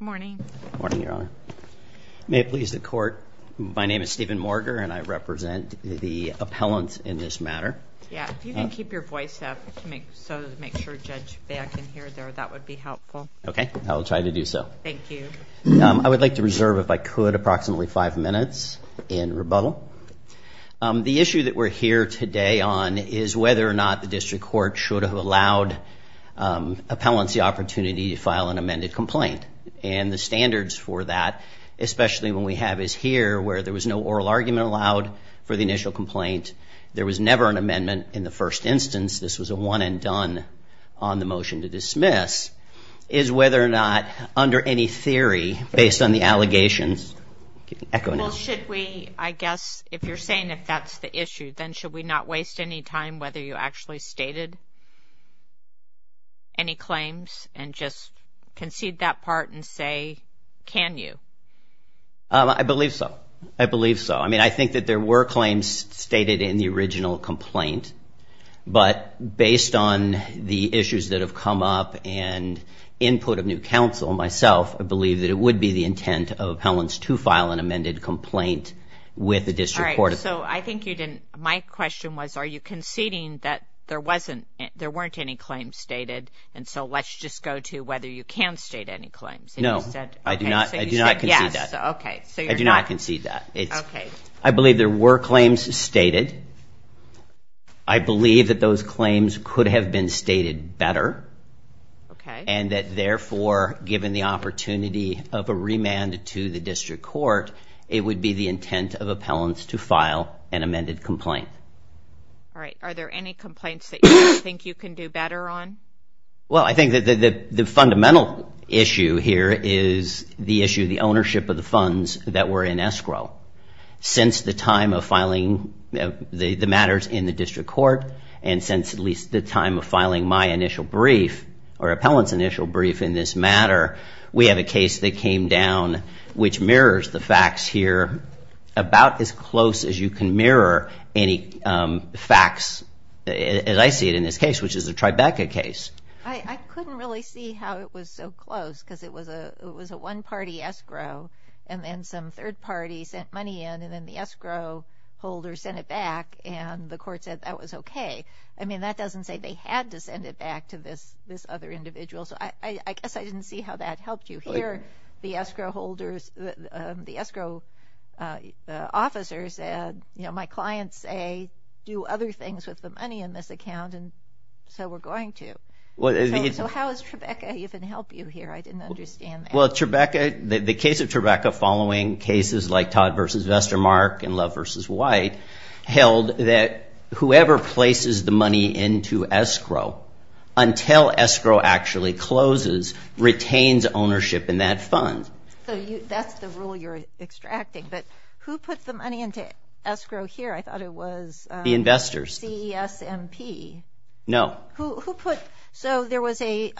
Good morning. Good morning, Your Honor. May it please the court, my name is Stephen Morger and I represent the appellant in this matter. Yeah, if you can keep your voice up to make sure the judge back in here, that would be helpful. Okay, I'll try to do so. Thank you. I would like to reserve, if I could, approximately five minutes in rebuttal. The issue that we're here today on is whether or not the complaint, and the standards for that, especially when we have is here where there was no oral argument allowed for the initial complaint, there was never an amendment in the first instance, this was a one-and-done on the motion to dismiss, is whether or not, under any theory, based on the allegations, I guess if you're saying if that's the issue, then should we not waste any time whether you actually stated any claims and just concede that part and say, can you? I believe so. I believe so. I mean, I think that there were claims stated in the original complaint, but based on the issues that have come up and input of new counsel, myself, I believe that it would be the intent of appellants to file an amended complaint with the district court. All right, so I think you didn't, my question was, are you conceding that there wasn't, there weren't any claims stated, and so let's just go to whether you can state any claims. No, I do not, I do not concede that. Okay. I do not concede that. Okay. I believe there were claims stated. I believe that those claims could have been stated better. Okay. And that therefore, given the opportunity of a remand to the district court, it would be the intent of appellants to file an amended complaint. All right. Are there any complaints that you think you can do better on? Well, I think that the fundamental issue here is the issue of the ownership of the funds that were in escrow. Since the time of filing the matters in the district court, and since at least the time of filing my initial brief, or appellant's initial brief in this matter, we have a case that came down which mirrors the facts here about as close as you can mirror any facts as I see it in this case, which is the Tribeca case. I couldn't really see how it was so close because it was a, it was a one-party escrow, and then some third party sent money in, and then the escrow holder sent it back, and the court said that was okay. I mean, that doesn't say they had to send it back to this, this other individual, so I guess I didn't see how that helped you. Here, the escrow holders, the escrow officers said, you know, my clients say do other things with the money in this account, and so we're going to. Well, so how is Tribeca even help you here? I didn't understand. Well, Tribeca, the case of Tribeca following cases like Todd versus Vestermark and whoever places the money into escrow until escrow actually closes, retains ownership in that fund. So that's the rule you're extracting, but who put the money into escrow here? I thought it was the investors, CESMP. No. Who put, so there was a,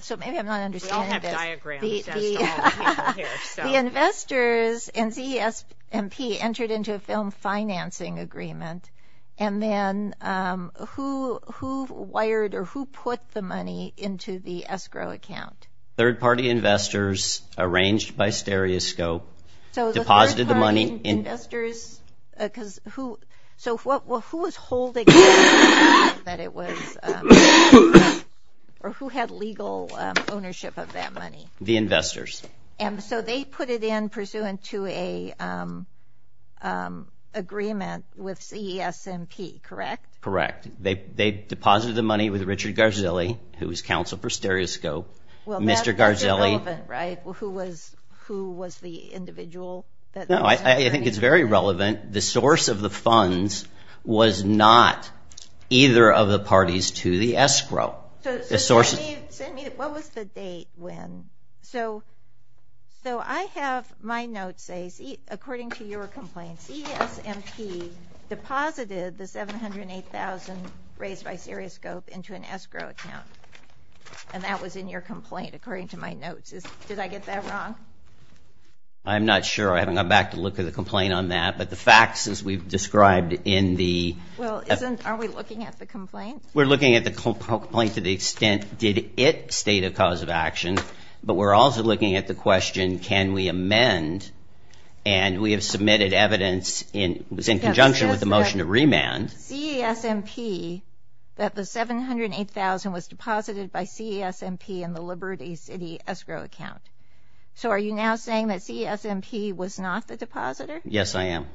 so maybe I'm not understanding this. We all have diagrams as to all the people here. The investors and CESMP entered into a film financing agreement, and then who wired or who put the money into the escrow account? Third-party investors arranged by stereoscope, deposited the money. So the third-party investors, because who, so what, who was holding it, that it was, or who had legal ownership of that money? The investors. And so they put it in into an agreement with CESMP, correct? Correct. They deposited the money with Richard Garzilli, who was counsel for stereoscope. Well, Mr. Garzilli. That's irrelevant, right? Who was the individual? No, I think it's very relevant. The source of the funds was not either of my notes says, according to your complaint, CESMP deposited the $708,000 raised by stereoscope into an escrow account, and that was in your complaint, according to my notes. Did I get that wrong? I'm not sure. I haven't gone back to look at the complaint on that, but the facts as we've described in the... Well, isn't, are we looking at the complaint? We're looking at the complaint to the extent, did it state a cause of action, but we're also looking at the question, can we amend, and we have submitted evidence in, it was in conjunction with the motion to remand. CESMP, that the $708,000 was deposited by CESMP in the Liberty City escrow account. So are you now saying that CESMP was not the depositor? Yes, I am.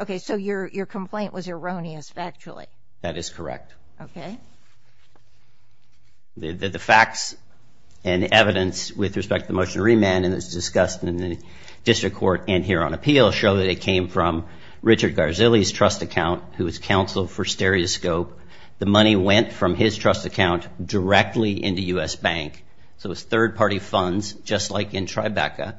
Okay, so your, your complaint was erroneous, factually. That is correct. Okay. The facts and evidence with respect to the motion to remand, and it's discussed in the district court and here on appeal, show that it came from Richard Garzilli's trust account, who was counsel for stereoscope. The money went from his trust account directly into U.S. Bank. So it's third-party funds, just like in Tribeca,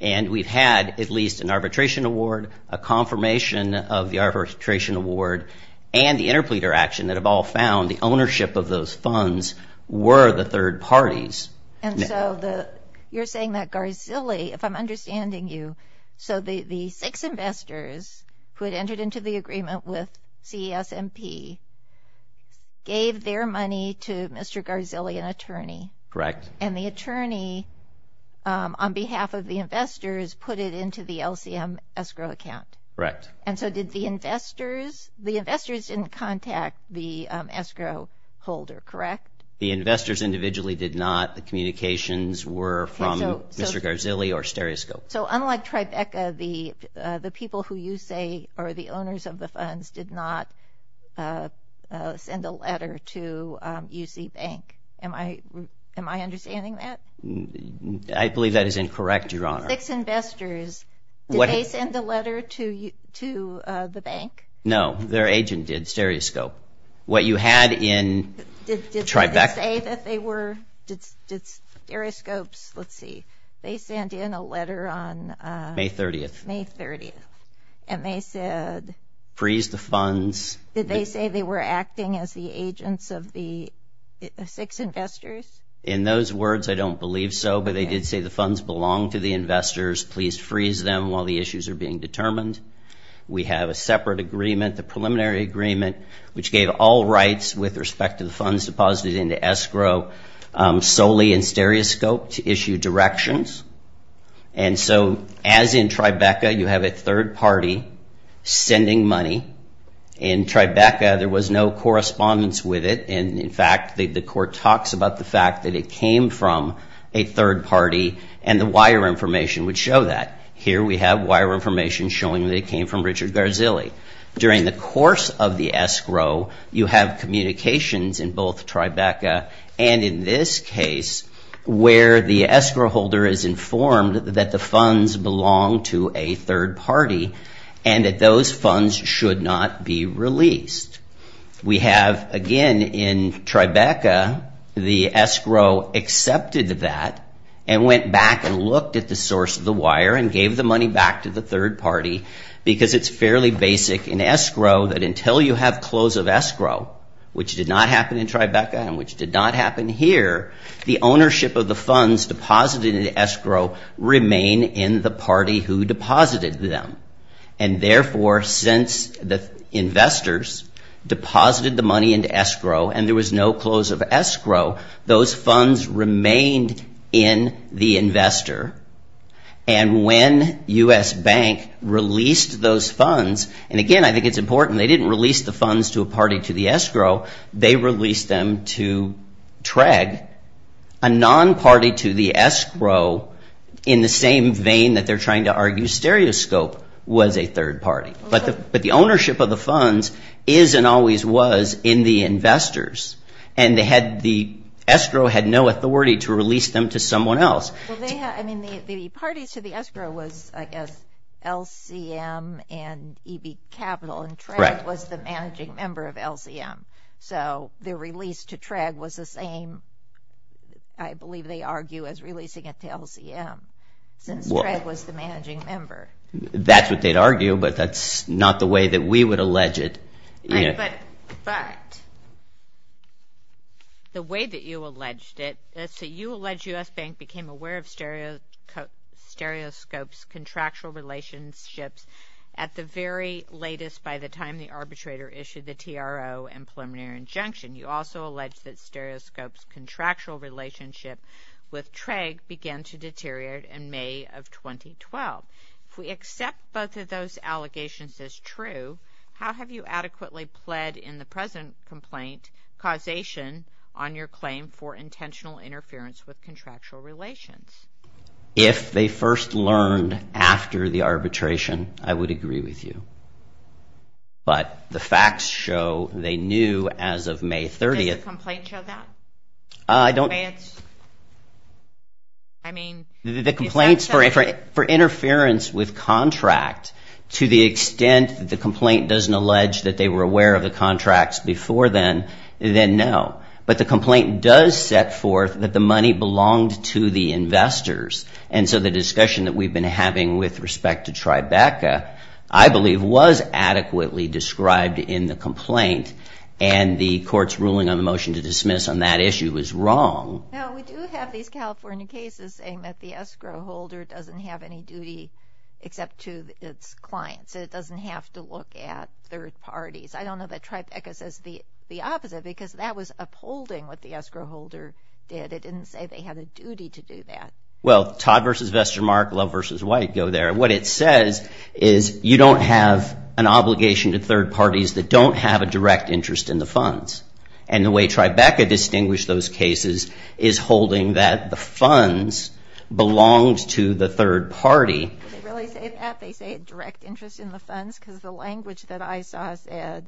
and we've had at least an arbitration award, a confirmation of the arbitration award, and the interpleader action that have all found the ownership of those funds were the third parties. And so the, you're saying that Garzilli, if I'm understanding you, so the, the six investors who had entered into the agreement with CESMP gave their money to Mr. Garzilli, an attorney. Correct. And the attorney, on behalf of the investors, put it into the LCM escrow account. Correct. And so did the investors, the investors didn't contact the escrow holder, correct? The investors individually did not. The communications were from Mr. Garzilli or stereoscope. So unlike Tribeca, the, the people who you say are the owners of the funds did not send a letter to UC Bank. Am I, am I understanding that? I believe that is incorrect, Your Honor. Six investors, did they send a letter to the bank? No, their agent did, stereoscope. What you had in Tribeca. Did they say that they were, did stereoscopes, let's see, they sent in a letter on May 30th. May 30th. And they said. Freeze the funds. Did they say they were acting as the agents of the six investors? In those words, I don't believe so, but they did say the funds belong to the investors. Please freeze them while the issues are being determined. We have a separate agreement, the preliminary agreement, which gave all rights with respect to the funds deposited into escrow solely in stereoscope to issue directions. And so as in Tribeca, you have a third party sending money. In Tribeca, there was no correspondence with it. And in fact, the court talks about the fact that it came from a third party and the wire information would show that. Here we have wire information showing that it came from Richard Garzilli. During the course of the escrow, you have communications in both Tribeca and in this case, where the escrow holder is informed that the funds belong to a third party and that those funds should not be released. We have, again, in Tribeca, the escrow accepted that and went back and looked at the source of the wire and gave the money back to the third party because it's fairly basic in escrow that until you have close of escrow, which did not happen in Tribeca and which did not happen here, the ownership of the funds deposited in escrow remain in the party who deposited them. And therefore, since the investors deposited the money into escrow and there was no close of escrow, those funds remained in the investor. And when U.S. Bank released those funds, and again, I think it's important, they didn't release the funds to a party to the escrow, they released them to TREG, a non-party to the escrow in the same vein that they're trying to argue stereoscope was a third party, but the ownership of the funds is and always was in the investors and the escrow had no authority to release them to someone else. Well, the parties to the escrow was, I guess, LCM and EB Capital and TREG was the managing member of LCM. So, their release to TREG was the same, I believe they argue, as releasing it to LCM since TREG was the managing member. That's what they'd argue, but that's not the way that we would allege it. But, the way that you alleged it, so you allege U.S. Bank became aware of stereoscope's contractual relationships at the very latest by the time the arbitrator issued the TRO and preliminary injunction. You also allege that stereoscope's contractual relationship with TREG began to deteriorate in May of 2012. If we accept both of those allegations as true, how have you adequately pled in the present complaint causation on your claim for intentional interference with contractual relations? If they first learned after the arbitration, I would agree with you. But, the facts show they knew as of May 30th. Does the complaint show that? The complaints for interference with contract to the extent that the complaint doesn't allege that they were aware of the contracts before then, then no. But, the complaint does set forth that the money belonged to the investors. And so, the discussion that we've been having with respect to Tribeca, I believe, was adequately described in the complaint. And, the court's ruling on the motion to dismiss on that issue was wrong. Now, we do have these California cases saying that the escrow holder doesn't have any duty except to its clients. It doesn't have to look at third parties. I don't know that Tribeca says the opposite because that was upholding what the escrow holder did. It didn't say they had a duty to do that. Well, Todd versus Vestermark, Love versus White go there. What it says is you don't have an obligation to third parties that don't have a direct interest in the funds. And, the way Tribeca distinguished those cases is holding that the funds belonged to the third party. Did they really say that? They say a direct interest in the funds because the language that I saw said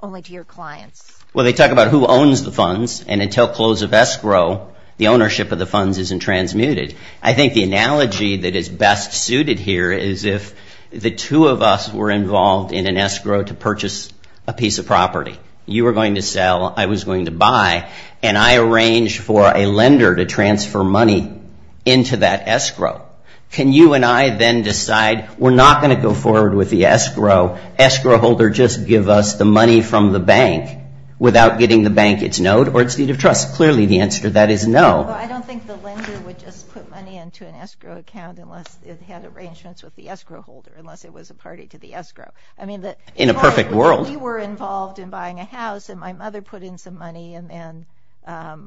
only to your clients. Well, they talk about who owns the funds. And, until close of escrow, the ownership of the funds isn't transmuted. I think the analogy that is best suited here is if the two of us were involved in an escrow to purchase a piece of property. You were going to sell. I was going to buy. And, I arranged for a lender to transfer money into that escrow. Can you and I then decide we're not going to go forward with the escrow. Escrow holder just give us the money from the bank without getting the bank its note or its deed of trust. Clearly, the answer to that is no. I don't think the lender would just put money into an escrow account unless it had arrangements with the escrow holder. Unless it was a party to the escrow. In a perfect world. If we were involved in buying a house and my mother put in some money and then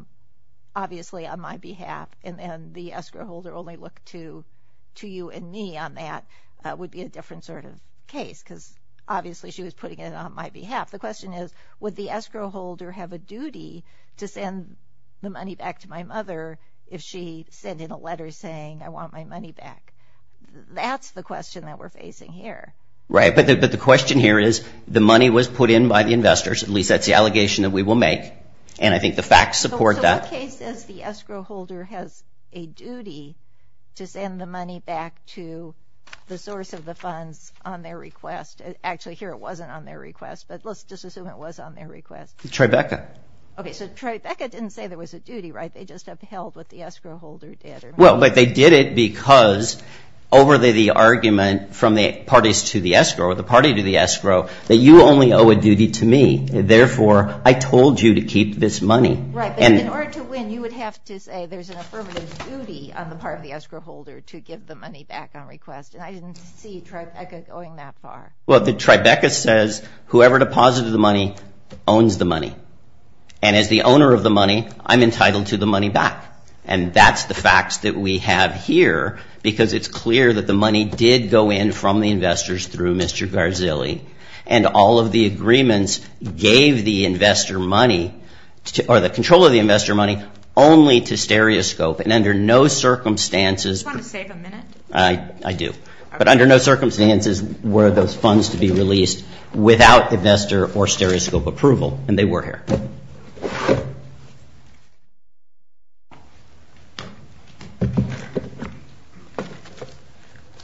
obviously on my behalf. And, the escrow holder only looked to you and me on that. That would be a different sort of case because obviously she was putting it on my behalf. The question is would the escrow holder have a duty to send the money back to my mother if she sent in a letter saying I want my money back. That's the question that we're facing here. Right. But, the question here is the money was put in by the investors. At least that's the allegation that we will make. And, I think the facts support that. So, what case is the escrow holder has a duty to send the money back to the source of the funds on their request. Actually, here it wasn't on their request. But, let's just assume it was on their request. Tribeca. Okay. So, Tribeca didn't say there was a duty, right? They just upheld what the escrow holder did. Well, but they did it because over the argument from the parties to the escrow or the party to the escrow that you only owe a duty to me. Therefore, I told you to keep this money. Right. And, in order to win you would have to say there's an affirmative duty on the part of the escrow holder to give the money back on request. And, I didn't see Tribeca going that far. Well, Tribeca says whoever deposited the money owns the money. And, as the owner of the money, I'm entitled to the money back. And, that's the facts that we have here because it's clear that the money did go in from the investors through Mr. Garzilli. And, all of the agreements gave the investor money or the control of the investor money only to Stereoscope. And, under no circumstances. Do you want to save a minute? I do. But, under no circumstances were those funds to be released without investor or Stereoscope approval. And, they were here.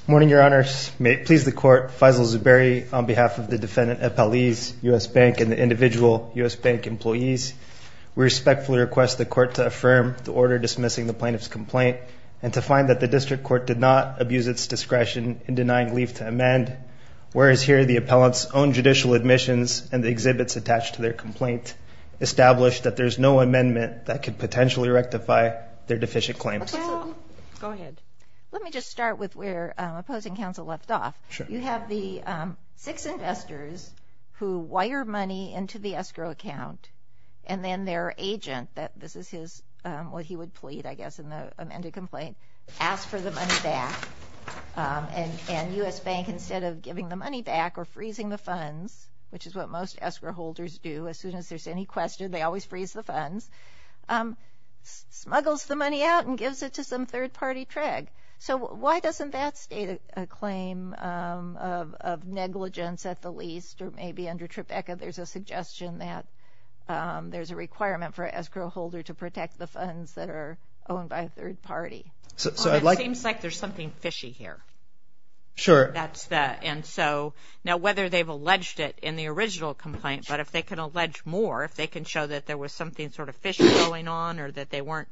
Morning, Your Honors. May it please the Court. Faisal Zuberi on behalf of the Defendant at Pali's U.S. Bank and the individual U.S. Bank employees. We respectfully request the Court to affirm the order dismissing the plaintiff's complaint and to find that the District Court did not abuse its discretion in denying leave to amend. Whereas, here the appellant's own judicial admissions and the exhibits attached to their complaint establish that there's no amendment that could potentially rectify their deficient claim. Go ahead. Let me just start with where opposing counsel left off. Sure. You have the six investors who wire money into the escrow account. And, then their agent, this is what he would plead, I guess, in the amended complaint, asks for the money back. And, U.S. Bank, instead of giving the money back or freezing the funds, which is what most escrow holders do as soon as there's any question, they always freeze the funds, smuggles the money out and gives it to some third-party trig. So, why doesn't that state a claim of negligence at the least? Or, maybe under Tribeca there's a suggestion that there's a requirement for an escrow holder to protect the funds that are owned by a third party. It seems like there's something fishy here. Sure. That's that. And, so, now whether they've alleged it in the original complaint, but if they can allege more, if they can show that there was something sort of fishy going on or that they weren't,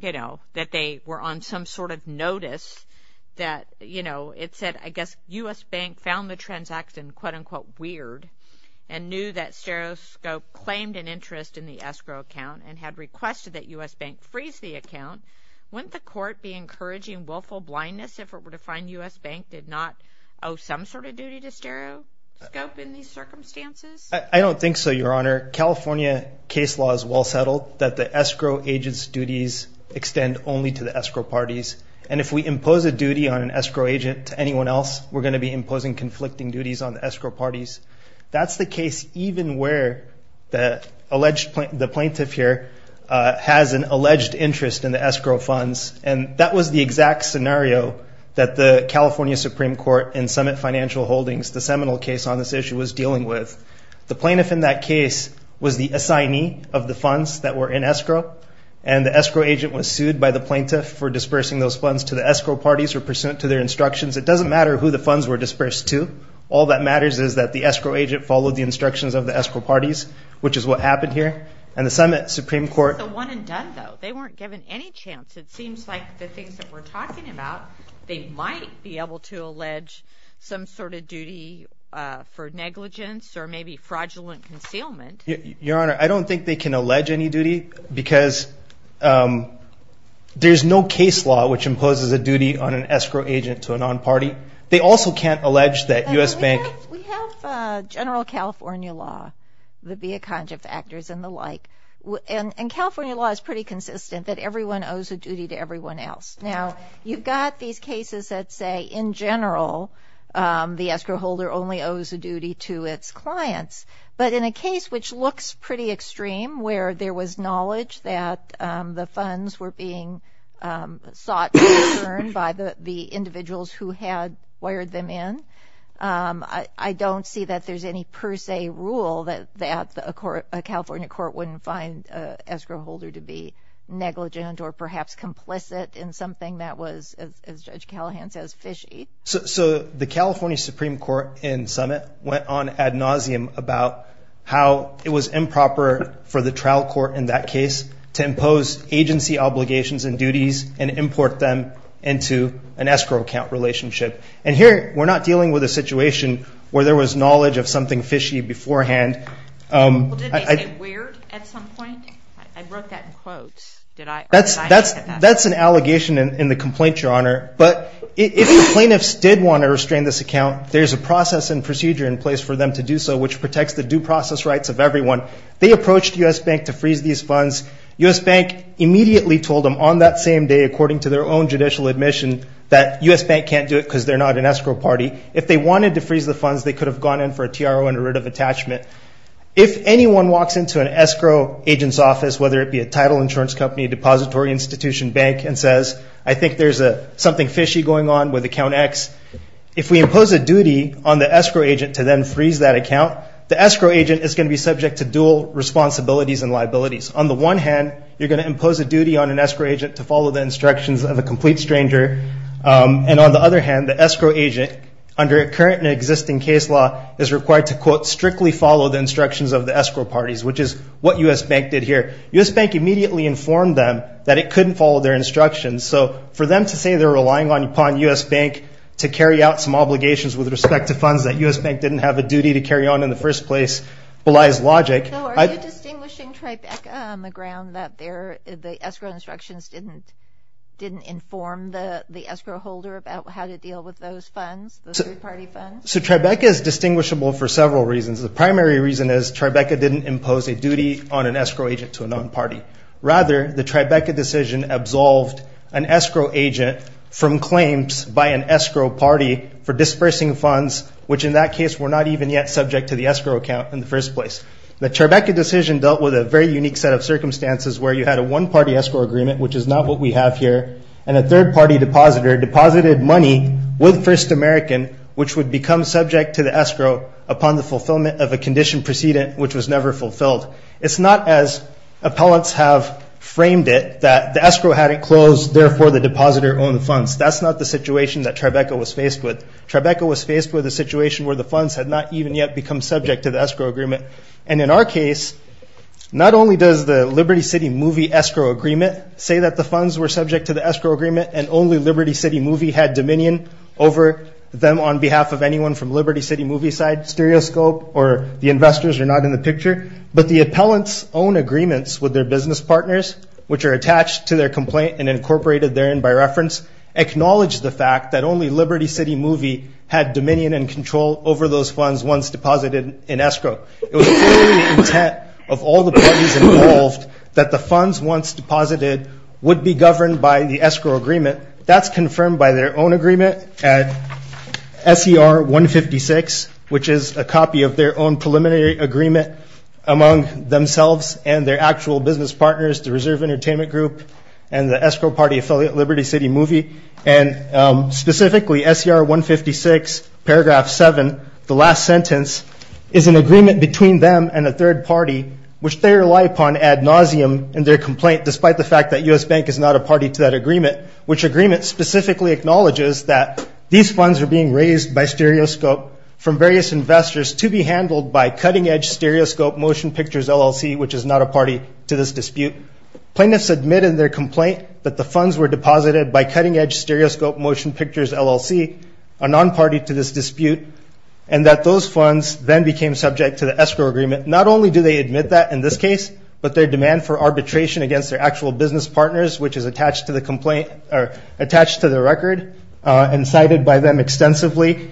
you know, that they were on some sort of notice that, you know, it said, I guess, U.S. Bank found the transaction, quote, unquote, weird and knew that Stero Scope claimed an interest in the escrow account and had requested that U.S. Bank freeze the account, wouldn't the court be encouraging willful blindness if it were to find U.S. Bank did not owe some sort of duty to Stero Scope in these circumstances? I don't think so, Your Honor. California case law is well settled that the escrow agent's duties extend only to the escrow parties. And if we impose a duty on an escrow agent to anyone else, we're going to be imposing conflicting duties on the escrow parties. That's the case even where the plaintiff here has an alleged interest in the escrow funds, and that was the exact scenario that the California Supreme Court and Summit Financial Holdings, the seminal case on this issue, was dealing with. The plaintiff in that case was the assignee of the funds that were in escrow, and the escrow agent was sued by the plaintiff for dispersing those funds to the escrow parties or pursuant to their instructions. It doesn't matter who the funds were dispersed to. All that matters is that the escrow agent followed the instructions of the escrow parties, which is what happened here. And the Summit Supreme Court- It's a one and done, though. They weren't given any chance. It seems like the things that we're talking about, they might be able to allege some sort of duty for negligence or maybe fraudulent concealment. Your Honor, I don't think they can allege any duty because there's no case law which imposes a duty on an escrow agent to a non-party. They also can't allege that U.S. Bank- We have general California law, the via conjuct factors and the like, and California law is pretty consistent that everyone owes a duty to everyone else. Now, you've got these cases that say, in general, the escrow holder only owes a duty to its clients, but in a case which looks pretty extreme where there was knowledge that the funds were being sought and returned by the individuals who had wired them in, I don't see that there's any per se rule that a California court wouldn't find an escrow holder to be negligent or perhaps complicit in something that was, as Judge Callahan says, fishy. So the California Supreme Court in Summit went on ad nauseum about how it was improper for the trial court in that case to impose agency obligations and duties and import them into an escrow account relationship. And here, we're not dealing with a situation where there was knowledge of something fishy beforehand. Did they say weird at some point? I wrote that in quotes. But if the plaintiffs did want to restrain this account, there's a process and procedure in place for them to do so, which protects the due process rights of everyone. They approached U.S. Bank to freeze these funds. U.S. Bank immediately told them on that same day, according to their own judicial admission, that U.S. Bank can't do it because they're not an escrow party. If they wanted to freeze the funds, they could have gone in for a TRO and a writ of attachment. If anyone walks into an escrow agent's office, whether it be a title insurance company, depository institution, bank, and says, I think there's something fishy going on with account X, if we impose a duty on the escrow agent to then freeze that account, the escrow agent is going to be subject to dual responsibilities and liabilities. On the one hand, you're going to impose a duty on an escrow agent to follow the instructions of a complete stranger. And on the other hand, the escrow agent, under current and existing case law, is required to, quote, strictly follow the instructions of the escrow parties, which is what U.S. Bank did here. U.S. Bank immediately informed them that it couldn't follow their instructions. So for them to say they're relying upon U.S. Bank to carry out some obligations with respect to funds that U.S. Bank didn't have a duty to carry on in the first place belies logic. So are you distinguishing Tribeca on the ground that the escrow instructions didn't inform the escrow holder about how to deal with those funds, those three-party funds? So Tribeca is distinguishable for several reasons. The primary reason is Tribeca didn't impose a duty on an escrow agent to a non-party. Rather, the Tribeca decision absolved an escrow agent from claims by an escrow party for dispersing funds, which in that case were not even yet subject to the escrow account in the first place. The Tribeca decision dealt with a very unique set of circumstances where you had a one-party escrow agreement, which is not what we have here, and a third-party depositor deposited money with First American, which would become subject to the escrow upon the fulfillment of a condition precedent, which was never fulfilled. It's not as appellants have framed it, that the escrow hadn't closed, therefore the depositor owned the funds. That's not the situation that Tribeca was faced with. Tribeca was faced with a situation where the funds had not even yet become subject to the escrow agreement. And in our case, not only does the Liberty City Movie escrow agreement say that the funds were subject to the escrow agreement and only Liberty City Movie had dominion over them on behalf of anyone from Liberty City Movie's side, stereoscope, or the investors are not in the picture, but the appellant's own agreements with their business partners, which are attached to their complaint and incorporated therein by reference, acknowledge the fact that only Liberty City Movie had dominion and control over those funds once deposited in escrow. It was fully the intent of all the parties involved that the funds once deposited would be governed by the escrow agreement. That's confirmed by their own agreement at S.E.R. 156, which is a copy of their own preliminary agreement among themselves and their actual business partners, the Reserve Entertainment Group and the escrow party affiliate Liberty City Movie. And specifically, S.E.R. 156, paragraph 7, the last sentence, is an agreement between them and a third party, which they rely upon ad nauseum in their complaint, despite the fact that U.S. Bank is not a party to that agreement, which agreement specifically acknowledges that these funds are being raised by stereoscope from various investors to be handled by cutting edge stereoscope motion pictures LLC, which is not a party to this dispute. Plaintiffs admitted in their complaint that the funds were deposited by cutting edge stereoscope motion pictures LLC, a non-party to this dispute, and that those funds then became subject to the escrow agreement. Not only do they admit that in this case, but their demand for arbitration against their actual business partners, which is attached to the complaint or attached to the record and cited by them extensively,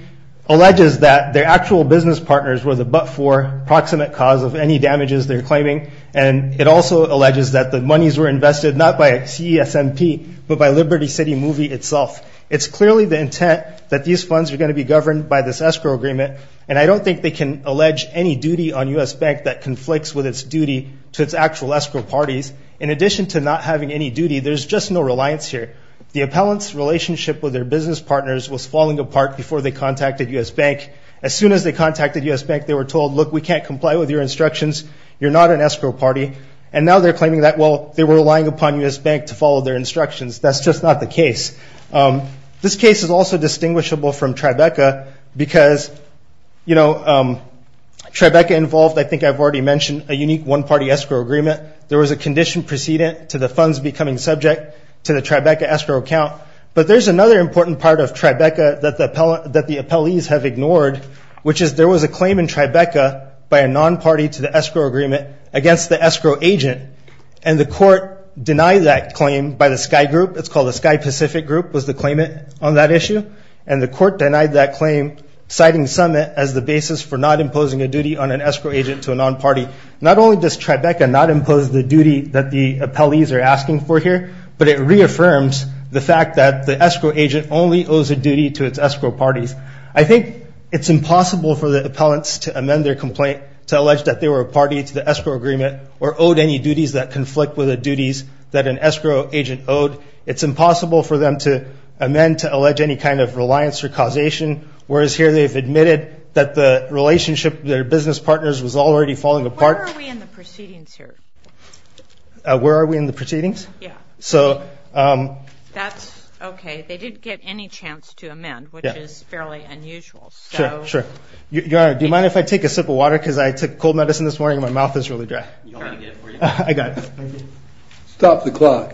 alleges that their actual business partners were the but for proximate cause of any damages they're claiming. And it also alleges that the monies were invested not by CESMP, but by Liberty City Movie itself. It's clearly the intent that these funds are going to be governed by this escrow agreement. And I don't think they can allege any duty on U.S. Bank that conflicts with its duty to its actual escrow parties. In addition to not having any duty, there's just no reliance here. The appellant's relationship with their business partners was falling apart before they contacted U.S. Bank. As soon as they contacted U.S. Bank, they were told, look, we can't comply with your instructions. You're not an escrow party. And now they're claiming that, well, they were relying upon U.S. Bank to follow their instructions. That's just not the case. This case is also distinguishable from Tribeca because, you know, Tribeca involved, I think I've already mentioned, a unique one-party escrow agreement. There was a condition precedent to the funds becoming subject to the Tribeca escrow account. But there's another important part of Tribeca that the appellees have ignored, which is there was a claim in Tribeca by a non-party to the escrow agreement against the escrow agent. And the court denied that claim by the Sky Group. It's called the Sky Pacific Group was the claimant on that issue. And the court denied that claim, citing Summit as the basis for not imposing a duty on an escrow agent to a non-party. Not only does Tribeca not impose the duty that the appellees are asking for here, but it reaffirms the fact that the escrow agent only owes a duty to its escrow parties. I think it's impossible for the appellants to amend their complaint to allege that they were a party to the escrow agreement or owed any duties that conflict with the duties that an escrow agent owed. It's impossible for them to amend to allege any kind of reliance or causation, whereas here they've admitted that the relationship, their business partners was already falling apart. Where are we in the proceedings here? Where are we in the proceedings? Yeah. So. That's okay. They didn't get any chance to amend, which is fairly unusual. Sure, sure. Your Honor, do you mind if I take a sip of water? Because I took cold medicine this morning and my mouth is really dry. You want me to get it for you? I got it. Stop the clock.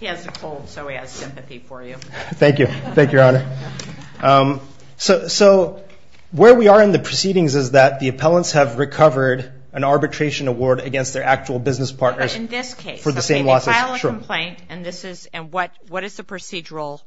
He has a cold, so he has sympathy for you. Thank you. Thank you, Your Honor. So where we are in the proceedings is that the appellants have recovered an arbitration award against their actual business partners. In this case. For the same losses. They file a complaint, and what is the procedural?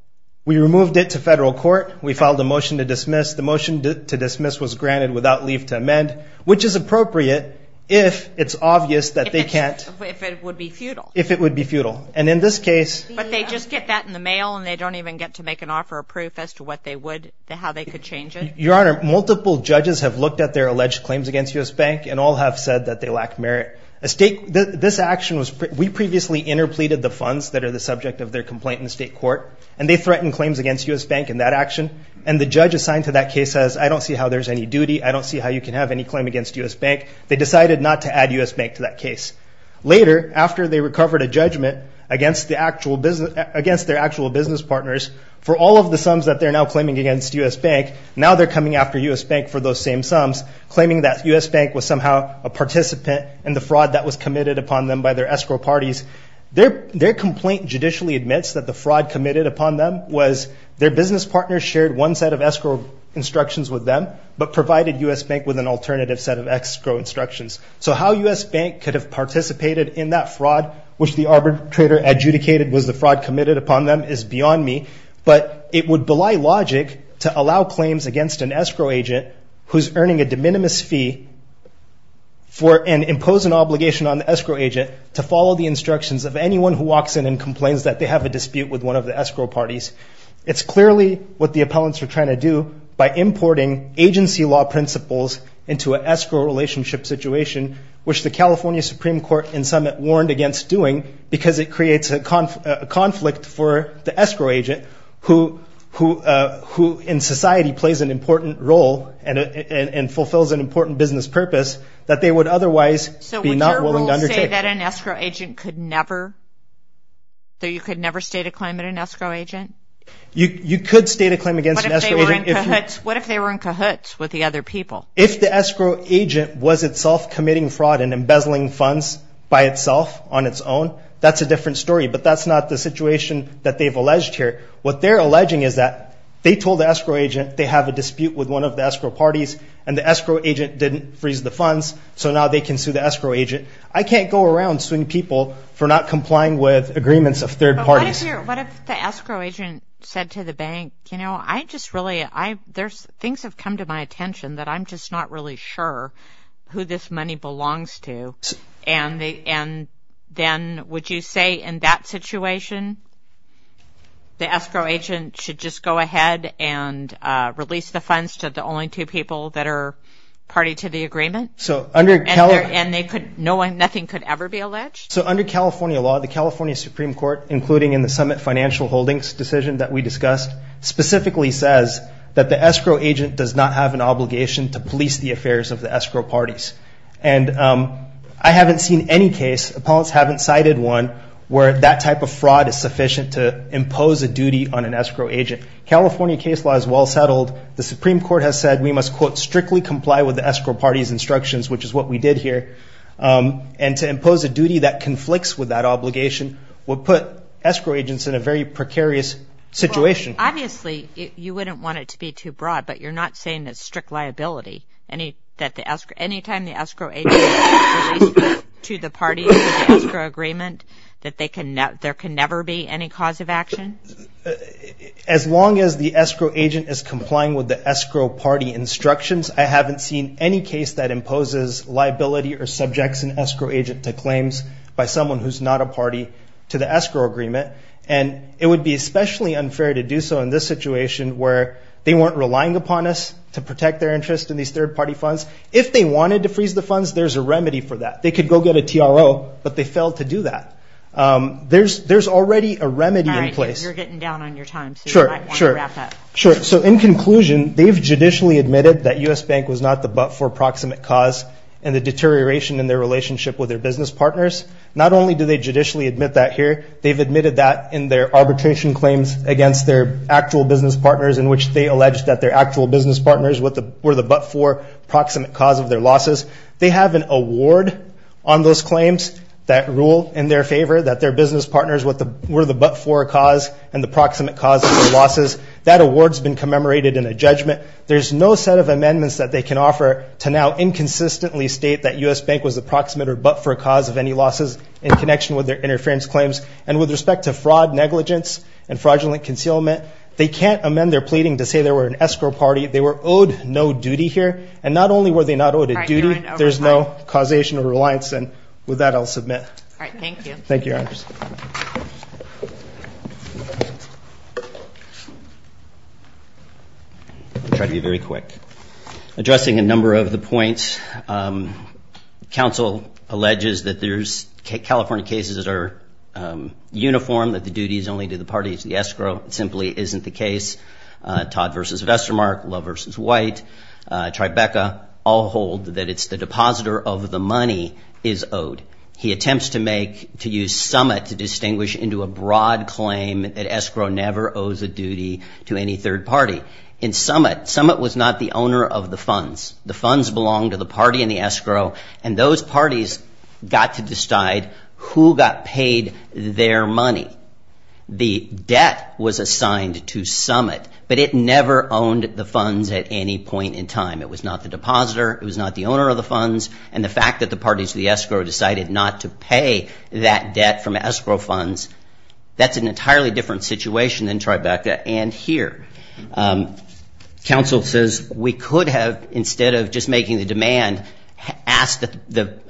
We removed it to federal court. We filed a motion to dismiss. The motion to dismiss was granted without leave to amend, which is appropriate if it's obvious that they can't. If it would be futile. If it would be futile. And in this case. But they just get that in the mail, and they don't even get to make an offer of proof as to what they would, how they could change it. Your Honor, multiple judges have looked at their alleged claims against U.S. Bank, and all have said that they lack merit. This action was, we previously interpleaded the funds that are the subject of their complaint in the state court, and they threatened claims against U.S. Bank in that action, and the judge assigned to that case says, I don't see how there's any duty. I don't see how you can have any claim against U.S. Bank. They decided not to add U.S. Bank to that case. Later, after they recovered a judgment against their actual business partners, for all of the sums that they're now claiming against U.S. Bank, now they're coming after U.S. Bank for those same sums, claiming that U.S. Bank was somehow a participant in the fraud that was committed upon them by their escrow parties. Their complaint judicially admits that the fraud committed upon them was their business partners shared one set of escrow instructions with them, but provided U.S. Bank with an alternative set of escrow instructions. So how U.S. Bank could have participated in that fraud, which the arbitrator adjudicated was the fraud committed upon them, is beyond me. But it would belie logic to allow claims against an escrow agent who's earning a de minimis fee, and impose an obligation on the escrow agent to follow the instructions of anyone who walks in and complains that they have a dispute with one of the escrow parties. It's clearly what the appellants were trying to do by importing agency law principles into an escrow relationship situation, which the California Supreme Court in summit warned against doing because it creates a conflict for the escrow agent who in society plays an important role and fulfills an important business purpose that they would otherwise be not willing to undertake. So would your rules say that an escrow agent could never, that you could never state a claim against an escrow agent? You could state a claim against an escrow agent. What if they were in cahoots with the other people? If the escrow agent was itself committing fraud and embezzling funds by itself on its own, that's a different story. But that's not the situation that they've alleged here. What they're alleging is that they told the escrow agent they have a dispute with one of the escrow parties, and the escrow agent didn't freeze the funds, so now they can sue the escrow agent. I can't go around suing people for not complying with agreements of third parties. What if the escrow agent said to the bank, you know, I just really, things have come to my attention that I'm just not really sure who this money belongs to, and then would you say in that situation the escrow agent should just go ahead and release the funds to the only two people that are party to the agreement? And nothing could ever be alleged? So under California law, the California Supreme Court, including in the Summit Financial Holdings decision that we discussed, specifically says that the escrow agent does not have an obligation to police the affairs of the escrow parties. And I haven't seen any case, opponents haven't cited one, where that type of fraud is sufficient to impose a duty on an escrow agent. California case law is well settled. The Supreme Court has said we must, quote, strictly comply with the escrow party's instructions, which is what we did here. And to impose a duty that conflicts with that obligation would put escrow agents in a very precarious situation. Obviously, you wouldn't want it to be too broad, but you're not saying that strict liability, that any time the escrow agent is released to the parties of the escrow agreement, that there can never be any cause of action? As long as the escrow agent is complying with the escrow party instructions, I haven't seen any case that imposes liability or subjects an escrow agent to claims by someone who's not a party to the escrow agreement. And it would be especially unfair to do so in this situation where they weren't relying upon us to protect their interest in these third-party funds. If they wanted to freeze the funds, there's a remedy for that. They could go get a TRO, but they failed to do that. There's already a remedy in place. All right, you're getting down on your time, so you might want to wrap up. Sure, so in conclusion, they've judicially admitted that U.S. Bank was not the but-for proximate cause and the deterioration in their relationship with their business partners. Not only do they judicially admit that here, they've admitted that in their arbitration claims against their actual business partners in which they allege that their actual business partners were the but-for proximate cause of their losses. They have an award on those claims that rule in their favor that their business partners were the but-for cause and the proximate cause of their losses. That award's been commemorated in a judgment. There's no set of amendments that they can offer to now inconsistently state that U.S. Bank was the proximate or but-for cause of any losses in connection with their interference claims. And with respect to fraud, negligence, and fraudulent concealment, they can't amend their pleading to say they were an escrow party. They were owed no duty here. And not only were they not owed a duty, there's no causation of reliance. And with that, I'll submit. All right, thank you. Thank you, Your Honors. I'll try to be very quick. Addressing a number of the points, counsel alleges that there's California cases that are uniform, that the duty is only to the parties of the escrow. It simply isn't the case. Todd v. Vestermark, Love v. White, Tribeca all hold that it's the depositor of the money is owed. He attempts to use summit to distinguish into a broad claim that escrow never owes a duty to any third party. In summit, summit was not the owner of the funds. The funds belonged to the party and the escrow, and those parties got to decide who got paid their money. The debt was assigned to summit, but it never owned the funds at any point in time. It was not the depositor. It was not the owner of the funds. And the fact that the parties of the escrow decided not to pay that debt from escrow funds, that's an entirely different situation than Tribeca and here. Counsel says we could have, instead of just making the demand, asked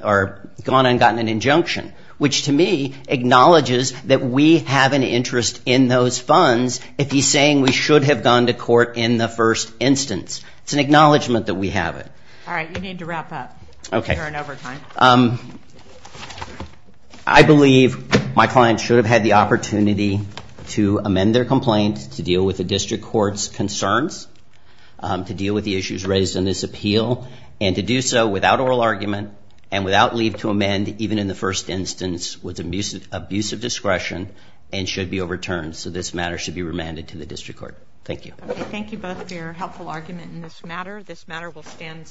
or gone and gotten an injunction, which to me acknowledges that we have an interest in those funds if he's saying we should have gone to court in the first instance. It's an acknowledgment that we have it. All right. You need to wrap up. You're in overtime. I believe my client should have had the opportunity to amend their complaint, to deal with the district court's concerns, to deal with the issues raised in this appeal, and to do so without oral argument and without leave to amend, even in the first instance, with abusive discretion and should be overturned. So this matter should be remanded to the district court. Thank you. Thank you both for your helpful argument in this matter. This matter will stand.